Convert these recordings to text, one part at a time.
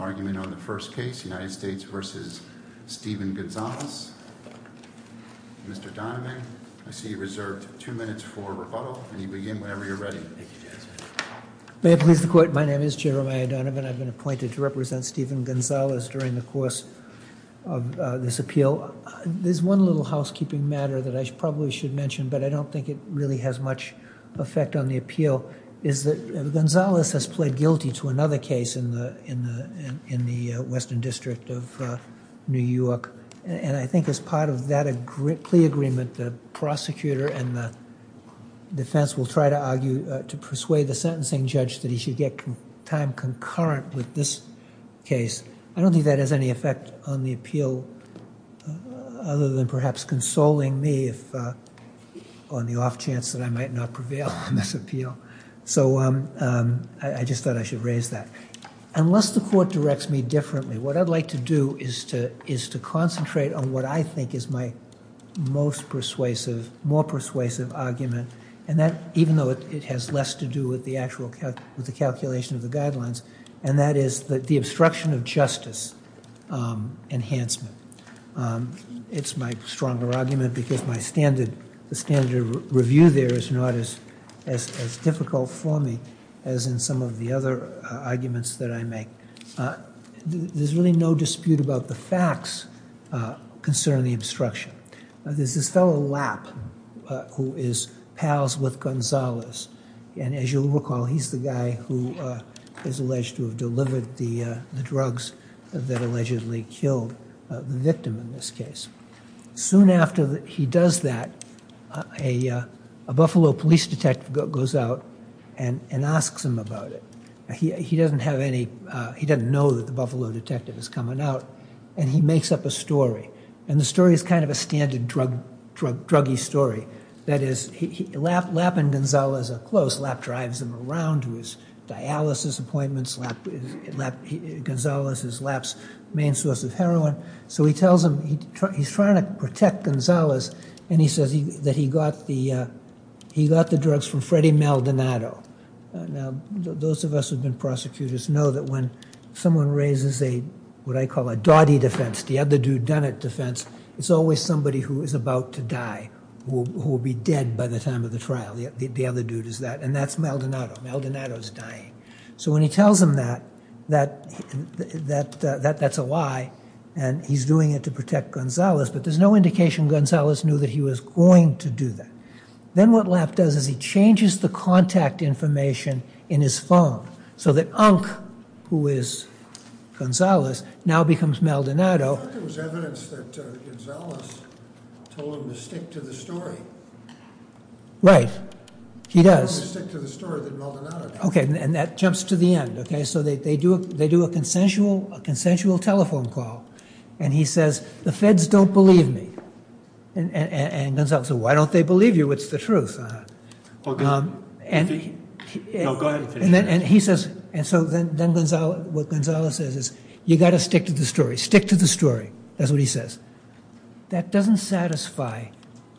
May I please the court, my name is Jeremiah Donovan, I've been appointed to represent Steven Gonzalez during the course of this appeal. There's one little housekeeping matter that I probably should mention but I don't think it really has much effect on the appeal is that Gonzalez has pled guilty to another case in the Western District of New York and I think as part of that plea agreement the prosecutor and the defense will try to argue to persuade the sentencing judge that he should get time concurrent with this case. I don't think that has any effect on the appeal other than perhaps consoling me on the off chance that I might not prevail on this appeal. So I just thought I should raise that. Unless the court directs me differently what I'd like to do is to concentrate on what I think is my most persuasive, more persuasive argument and that even though it has less to do with the actual calculation of the guidelines and that is the obstruction of justice enhancement. It's my stronger argument because my standard review there is not as difficult for me as in some of the other arguments that I make. There's really no dispute about the facts concerning the obstruction. There's this fellow Lapp who is pals with Gonzalez and as you'll see he's the victim in this case. Soon after he does that a Buffalo police detective goes out and asks him about it. He doesn't have any, he doesn't know that the Buffalo detective is coming out and he makes up a story and the story is kind of a standard druggy story. That is Lapp and Gonzalez are close. Lapp drives him around to his dialysis appointments. Gonzalez is Lapp's main source of heroin. So he tells him, he's trying to protect Gonzalez and he says that he got the drugs from Freddie Maldonado. Now those of us who have been prosecutors know that when someone raises a what I call a dotty defense, the other dude done it defense, it's always somebody who is about to die, who will be dead by the time of the trial. The other dude is that and that's Maldonado. Maldonado is dying. So when he tells him that, that's a lie and he's doing it to protect Gonzalez but there's no indication Gonzalez knew that he was going to do that. Then what Lapp does is he changes the contact information in his phone so that Unk, who is Gonzalez, now becomes Maldonado. I thought there was evidence that Gonzalez told him to stick to the story. Right, he does. He told him to stick to the story that Maldonado told him. Okay and that jumps to the end. So they do a consensual telephone call and he says, the feds don't believe me and Gonzalez says, why don't they believe you? What's the truth? No, go ahead and finish. And so then what Gonzalez says is, you got to stick to the story. Stick to the story, that's what he says. That doesn't satisfy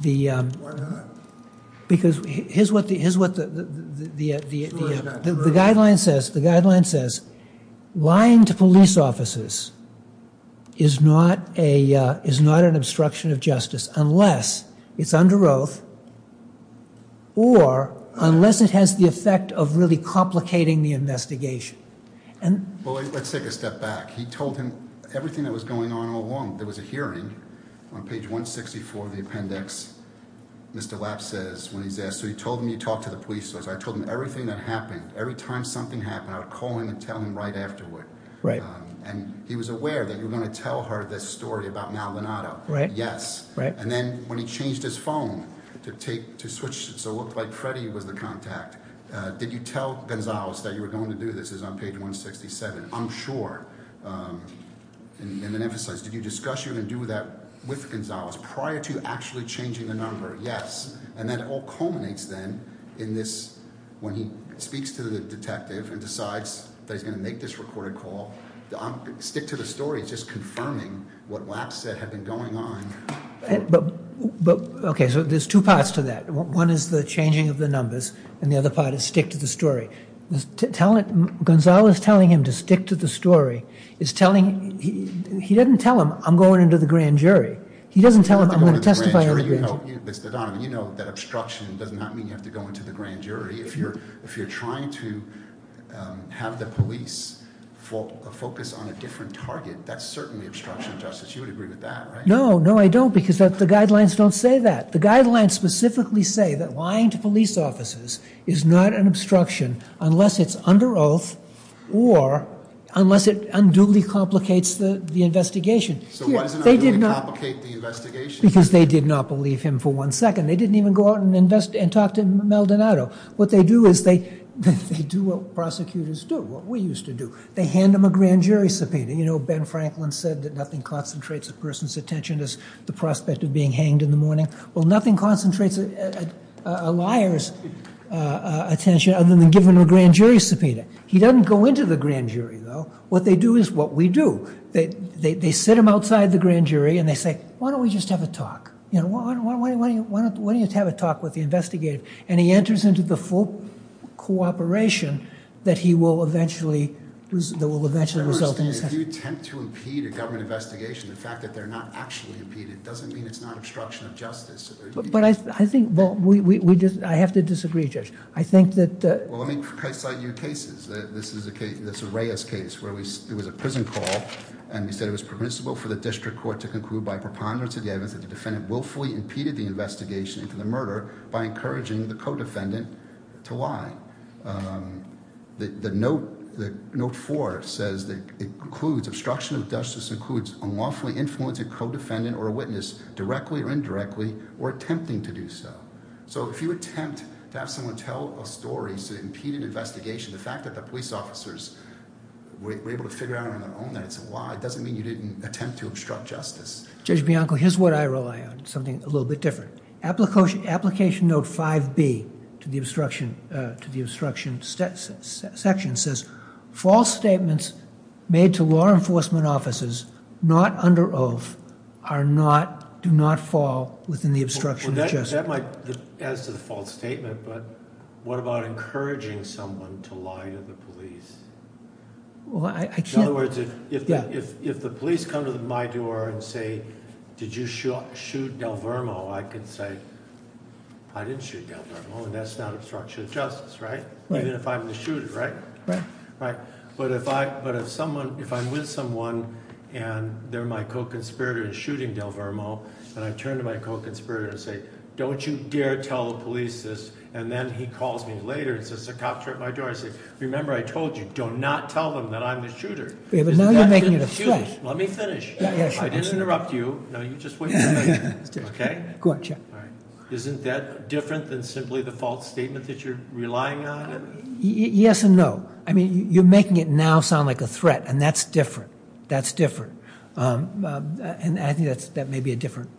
the... Why not? Because here's what the guideline says. The guideline says, lying to police officers is not an obstruction of justice unless it's under oath or unless it has the effect of really complicating the investigation. Well, let's take a step back. He told him everything that was going on all along. There was a hearing on page 164 of the appendix. Mr. Lapp says when he's asked, so he told him he talked to the police. I told him everything that happened. Every time something happened, I would call him and tell him right afterward. And he was aware that you're going to tell her this story about Mal Donato. Yes. And then when he changed his phone to switch, so it looked like Freddie was the contact. Did you tell Gonzalez that you were going to do this? It's on page 167. I'm sure. And then emphasize, did you discuss you're going to do that with Gonzalez prior to actually changing the number? Yes. And then it all culminates then in this, when he speaks to the detective and decides that he's going to make this recorded call, stick to the story. It's just what Lapp said had been going on. But, okay, so there's two parts to that. One is the changing of the numbers and the other part is stick to the story. Gonzalez telling him to stick to the story is telling, he doesn't tell him I'm going into the grand jury. He doesn't tell him I'm going to testify. You know, Mr. Donovan, you know that obstruction does not mean you have to go into the grand jury. If you're trying to have the police focus on a different target, that's certainly obstruction, Justice. You would agree with that, right? No, no, I don't because the guidelines don't say that. The guidelines specifically say that lying to police officers is not an obstruction unless it's under oath or unless it unduly complicates the investigation. So why does it unduly complicate the investigation? Because they did not believe him for one second. They didn't even go out and invest and talk to Maldonado. What they do is they, they do what prosecutors do, what we used to do. They hand him a grand jury subpoena. You know, Ben Franklin said that nothing concentrates a person's attention as the prospect of being hanged in the morning. Well, nothing concentrates a liar's attention other than giving a grand jury subpoena. He doesn't go into the grand jury though. What they do is what we do. They sit him outside the grand jury and they say, why don't we just have a talk? You know, why don't you just have a talk with the investigator? And he enters into the full cooperation that he will eventually, that will eventually result in his hanging. If you attempt to impede a government investigation, the fact that they're not actually impeded doesn't mean it's not obstruction of justice. But I think, well, we just, I have to disagree, Judge. I think that. Well, let me cite you cases. This is a case, this Arraya's case where we, it was a prison call and we said it was permissible for the district court to conclude by preponderance of the evidence that the defendant willfully impeded the investigation into the murder by encouraging the co-defendant to lie. The note, the note four says that it includes obstruction of justice includes unlawfully influencing co-defendant or a witness directly or indirectly or attempting to do so. So if you attempt to have someone tell a story to impede an investigation, the fact that the police officers were able to figure out on their own that it's a lie, it doesn't mean you didn't attempt to obstruct justice. Judge Bianco, here's what I rely on, something a little bit different. Application note 5b to the obstruction, to the obstruction section says false statements made to law enforcement officers not under oath are not, do not fall within the obstruction of justice. That might add to the false statement, but what about encouraging someone to lie to the police? Well, I can't. In other words, if the police come to my door and say, did you shoot Delvermo? I can say, I didn't shoot Delvermo and that's not obstruction of justice, right? Even if I'm the shooter, right? Right. Right. But if I, but if someone, if I'm with someone and they're my co-conspirator in shooting Delvermo and I turn to my co-conspirator and say, don't you dare tell the police this. And then he calls me later and says, the cop tripped my door. I say, remember, I told you, do not tell them that I'm the shooter. Let me finish. I didn't interrupt you. No, you just wait. Okay. Go on Chuck. All right. Isn't that different than simply the false statement that you're relying on? Yes and no. I mean, you're making it now sound like a threat and that's different. That's different. And I think that's, that may be a different.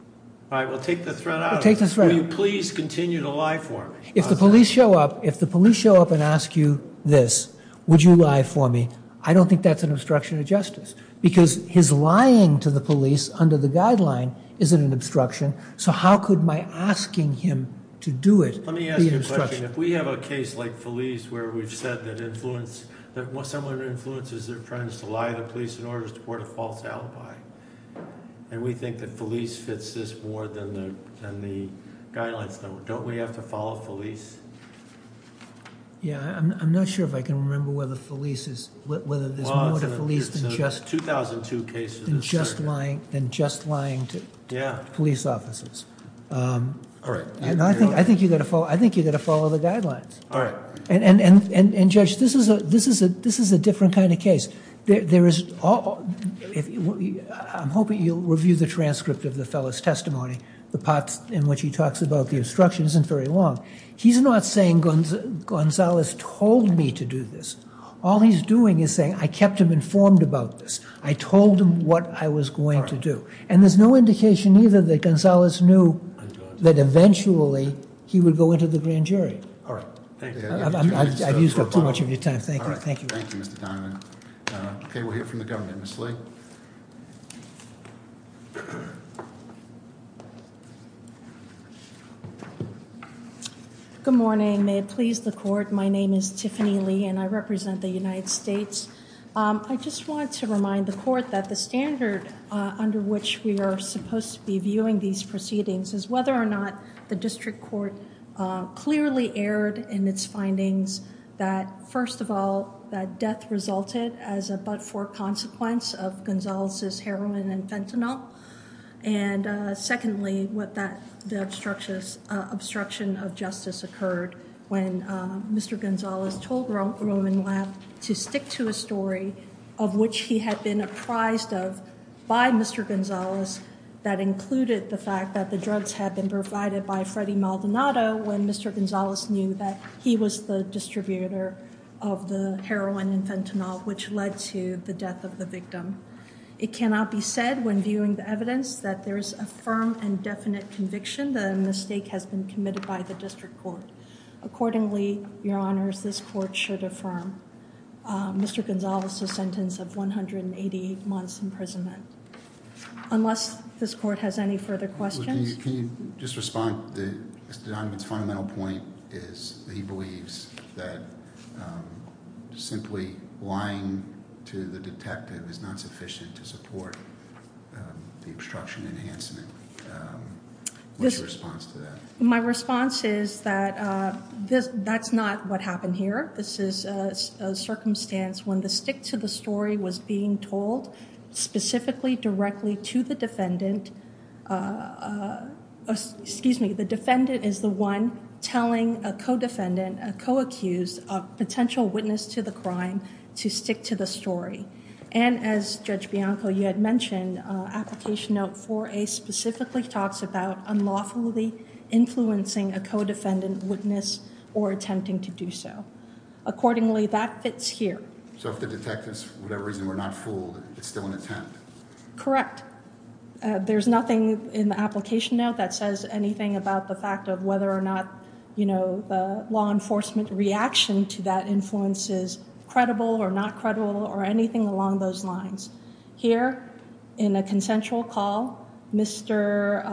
All right. We'll take the threat out of it. Will you please continue to lie for me? If the police show up, if the police show up and ask you this, would you lie for me? I don't think that's an obstruction of justice because his lying to the police under the guideline isn't an obstruction. So how could my asking him to do it? Let me ask you a question. If we have a case like Felice where we've said that influence, that someone influences their friends to lie to police in order to report a false alibi. And we think that Felice fits this more than the, than the guidelines don't. Don't we have to follow Felice? Yeah. I'm not sure if I can remember whether whether there's more to Felice than just lying, than just lying to police officers. All right. And I think, I think you've got to follow, I think you've got to follow the guidelines. All right. And, and, and, and judge, this is a, this is a, this is a different kind of case. There, there is, I'm hoping you'll review the transcript of the fellow's testimony, the parts in which he talks about the obstruction isn't very long. He's not saying Gonzalez told me to do this. All he's doing is saying, I kept him informed about this. I told him what I was going to do. And there's no indication either that Gonzalez knew that eventually he would go into the grand jury. All right. Thank you. I've used up too much of your time. Thank you. Thank you, Mr. Donovan. Okay. We'll hear from the government. Ms. Lee. Good morning. May it please the court. My name is Tiffany Lee and I represent the United States. I just wanted to remind the court that the standard under which we are supposed to be viewing these proceedings is whether or not the district court clearly erred in its findings that first of all, that death resulted as a but for consequence of Gonzalez's heroin and fentanyl. And secondly, what that, the obstruction of justice occurred when Mr. Gonzalez told Roman Lab to stick to a story of which he had been apprised of by Mr. Gonzalez that included the fact that the drugs had been provided by Freddie Maldonado when Mr. Gonzalez knew that he was the distributor of the heroin and fentanyl, which led to the death of the victim. It cannot be said when viewing the evidence that there is a firm and definite conviction that a mistake has been committed by the district court. Accordingly, your honors, this court should affirm Mr. Gonzalez's sentence of 180 months imprisonment unless this court has any further questions. Can you just respond? Mr. Donovan's fundamental point is that he believes that simply lying to the detective is not sufficient to support the obstruction enhancement. What's your response to that? My response is that that's not what happened here. This is a circumstance when the stick to the story was being told specifically directly to the defendant. Excuse me, the defendant is the one telling a co-defendant, a co-accused, a potential witness to the crime to stick to the story. And as Judge Bianco, you had mentioned, application note 4A specifically talks about unlawfully influencing a co-defendant witness or attempting to do so. Accordingly, that fits here. So if the detectives, for whatever reason, were not fooled, it's still an attempt? Correct. There's nothing in the application note that says anything about the fact of whether or not, you know, the law enforcement reaction to that influences credible or not credible or anything along those lines. Here, in a consensual call, Mr.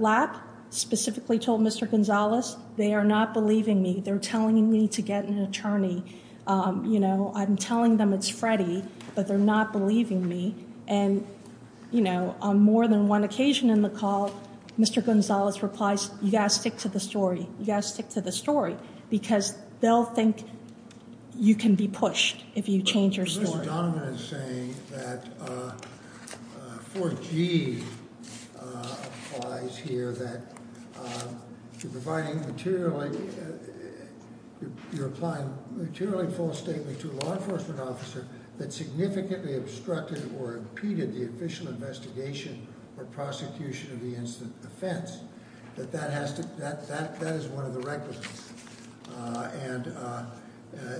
Lapp specifically told Mr. Gonzalez, they are not believing me. They're telling me to get an attorney. You know, I'm telling them it's Freddie, but they're not believing me. And, you know, on more than one occasion in the call, Mr. Gonzalez replies, you gotta stick to the story. You gotta stick to the story. Because they'll think you can be pushed if you Mr. Donovan is saying that 4G applies here that you're providing materially, you're applying materially false statement to a law enforcement officer that significantly obstructed or impeded the official investigation or prosecution of the incident of offense. That that has to, that is one of the requisites. And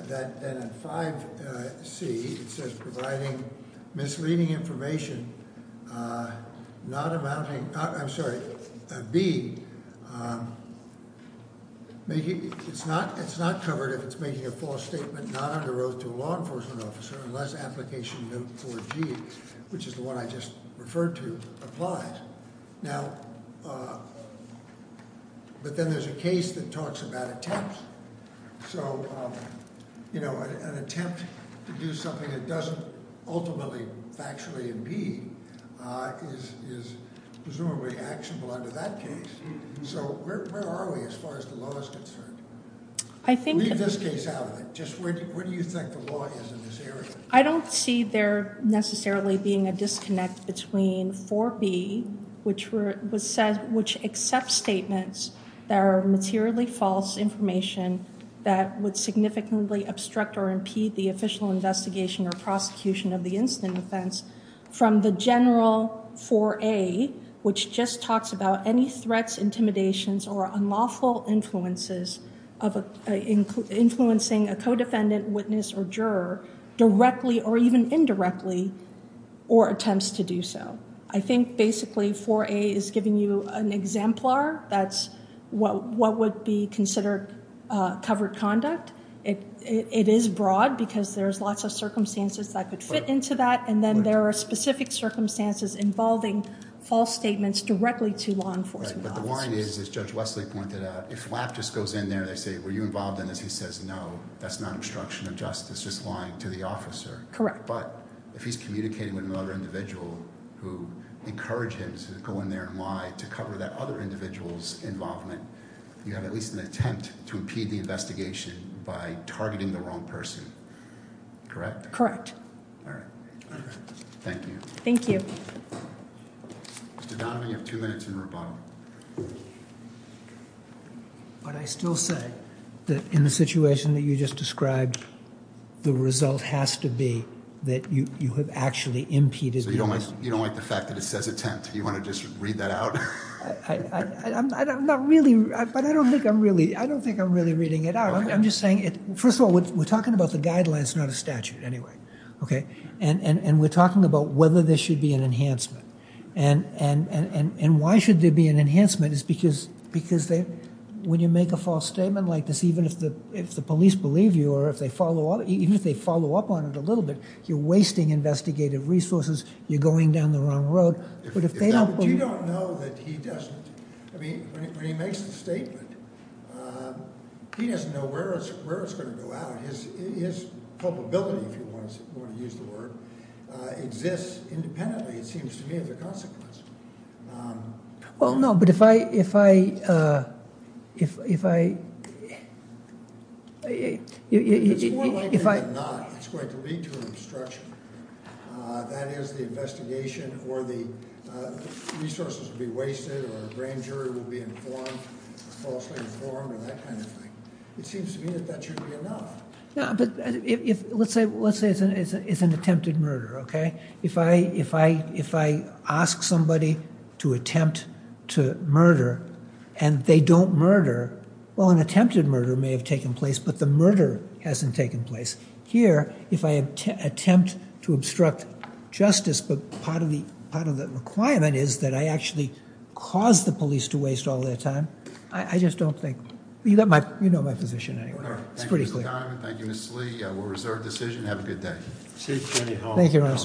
that then in 5C, it says providing misleading information not amounting, I'm sorry, B, making, it's not, it's not covered if it's making a false statement not under oath to a law enforcement officer unless application note 4G, which is the one I just referred to, Now, but then there's a case that talks about attempts. So, you know, an attempt to do something that doesn't ultimately, factually impede is presumably actionable under that case. So where are we as far as the law is concerned? Leave this case out of it. Just where do you think the law is in this area? I don't see there necessarily being a disconnect between 4B, which was said, which accepts statements that are materially false information that would significantly obstruct or impede the official investigation or prosecution of the incident offense from the general 4A, which just talks about any threats, intimidations, or unlawful influences of influencing a co-defendant witness or juror directly, or even indirectly, or attempts to do so. I think basically 4A is giving you an exemplar. That's what would be considered covered conduct. It is broad because there's lots of circumstances that could fit into that. And then there are specific circumstances involving false statements directly to law enforcement. But the point is, as Judge Wesley pointed out, if lap just goes in there, they say, were you involved in this? He says, no, that's not obstruction of justice, just lying to the officer. Correct. But if he's communicating with another individual who encouraged him to go in there and lie to cover that other individual's involvement, you have at least an attempt to impede the investigation by targeting the wrong person. Correct? Correct. All right. Thank you. Thank you. Mr. Donovan, you have two minutes in rebuttal. But I still say that in the situation that you just described, the result has to be that you have actually impeded. So you don't like the fact that it says attempt? You want to just read that out? I'm not really, but I don't think I'm really, I don't think I'm really reading it out. I'm just saying, first of all, we're talking about the guidelines, not a statute anyway, okay? And we're talking about whether there should be an enhancement. And why should there be an enhancement is because when you make a false statement like this, even if the police believe you, or even if they follow up on it a little bit, you're wasting investigative resources, you're going down the wrong road. But you don't know that he doesn't. I mean, when he makes the statement, he doesn't know where it's going to go out. His culpability, if you want to use the word, exists independently, it seems to me, as a consequence. Well, no, but if I, if I, if I, if I, it's going to lead to an obstruction. That is the investigation, or the resources will be wasted, or a grand jury will be informed, falsely informed, or that kind of thing. It seems to me that that should be enough. No, but if, let's say, let's say it's an attempted murder, okay? If I, if I, if I ask somebody to attempt to murder, and they don't murder, well, an attempted murder may have taken place, but the murder hasn't taken place. Here, if I attempt to obstruct justice, but part of the, part of the requirement is that I actually cause the police to waste all their time, I just don't think, you know my, you know my position anyway. It's pretty clear. Thank you, Mr. Diamond. Thank you, Mrs. Lee. We'll reserve decision. Have a good day. Thank you, Your Honor.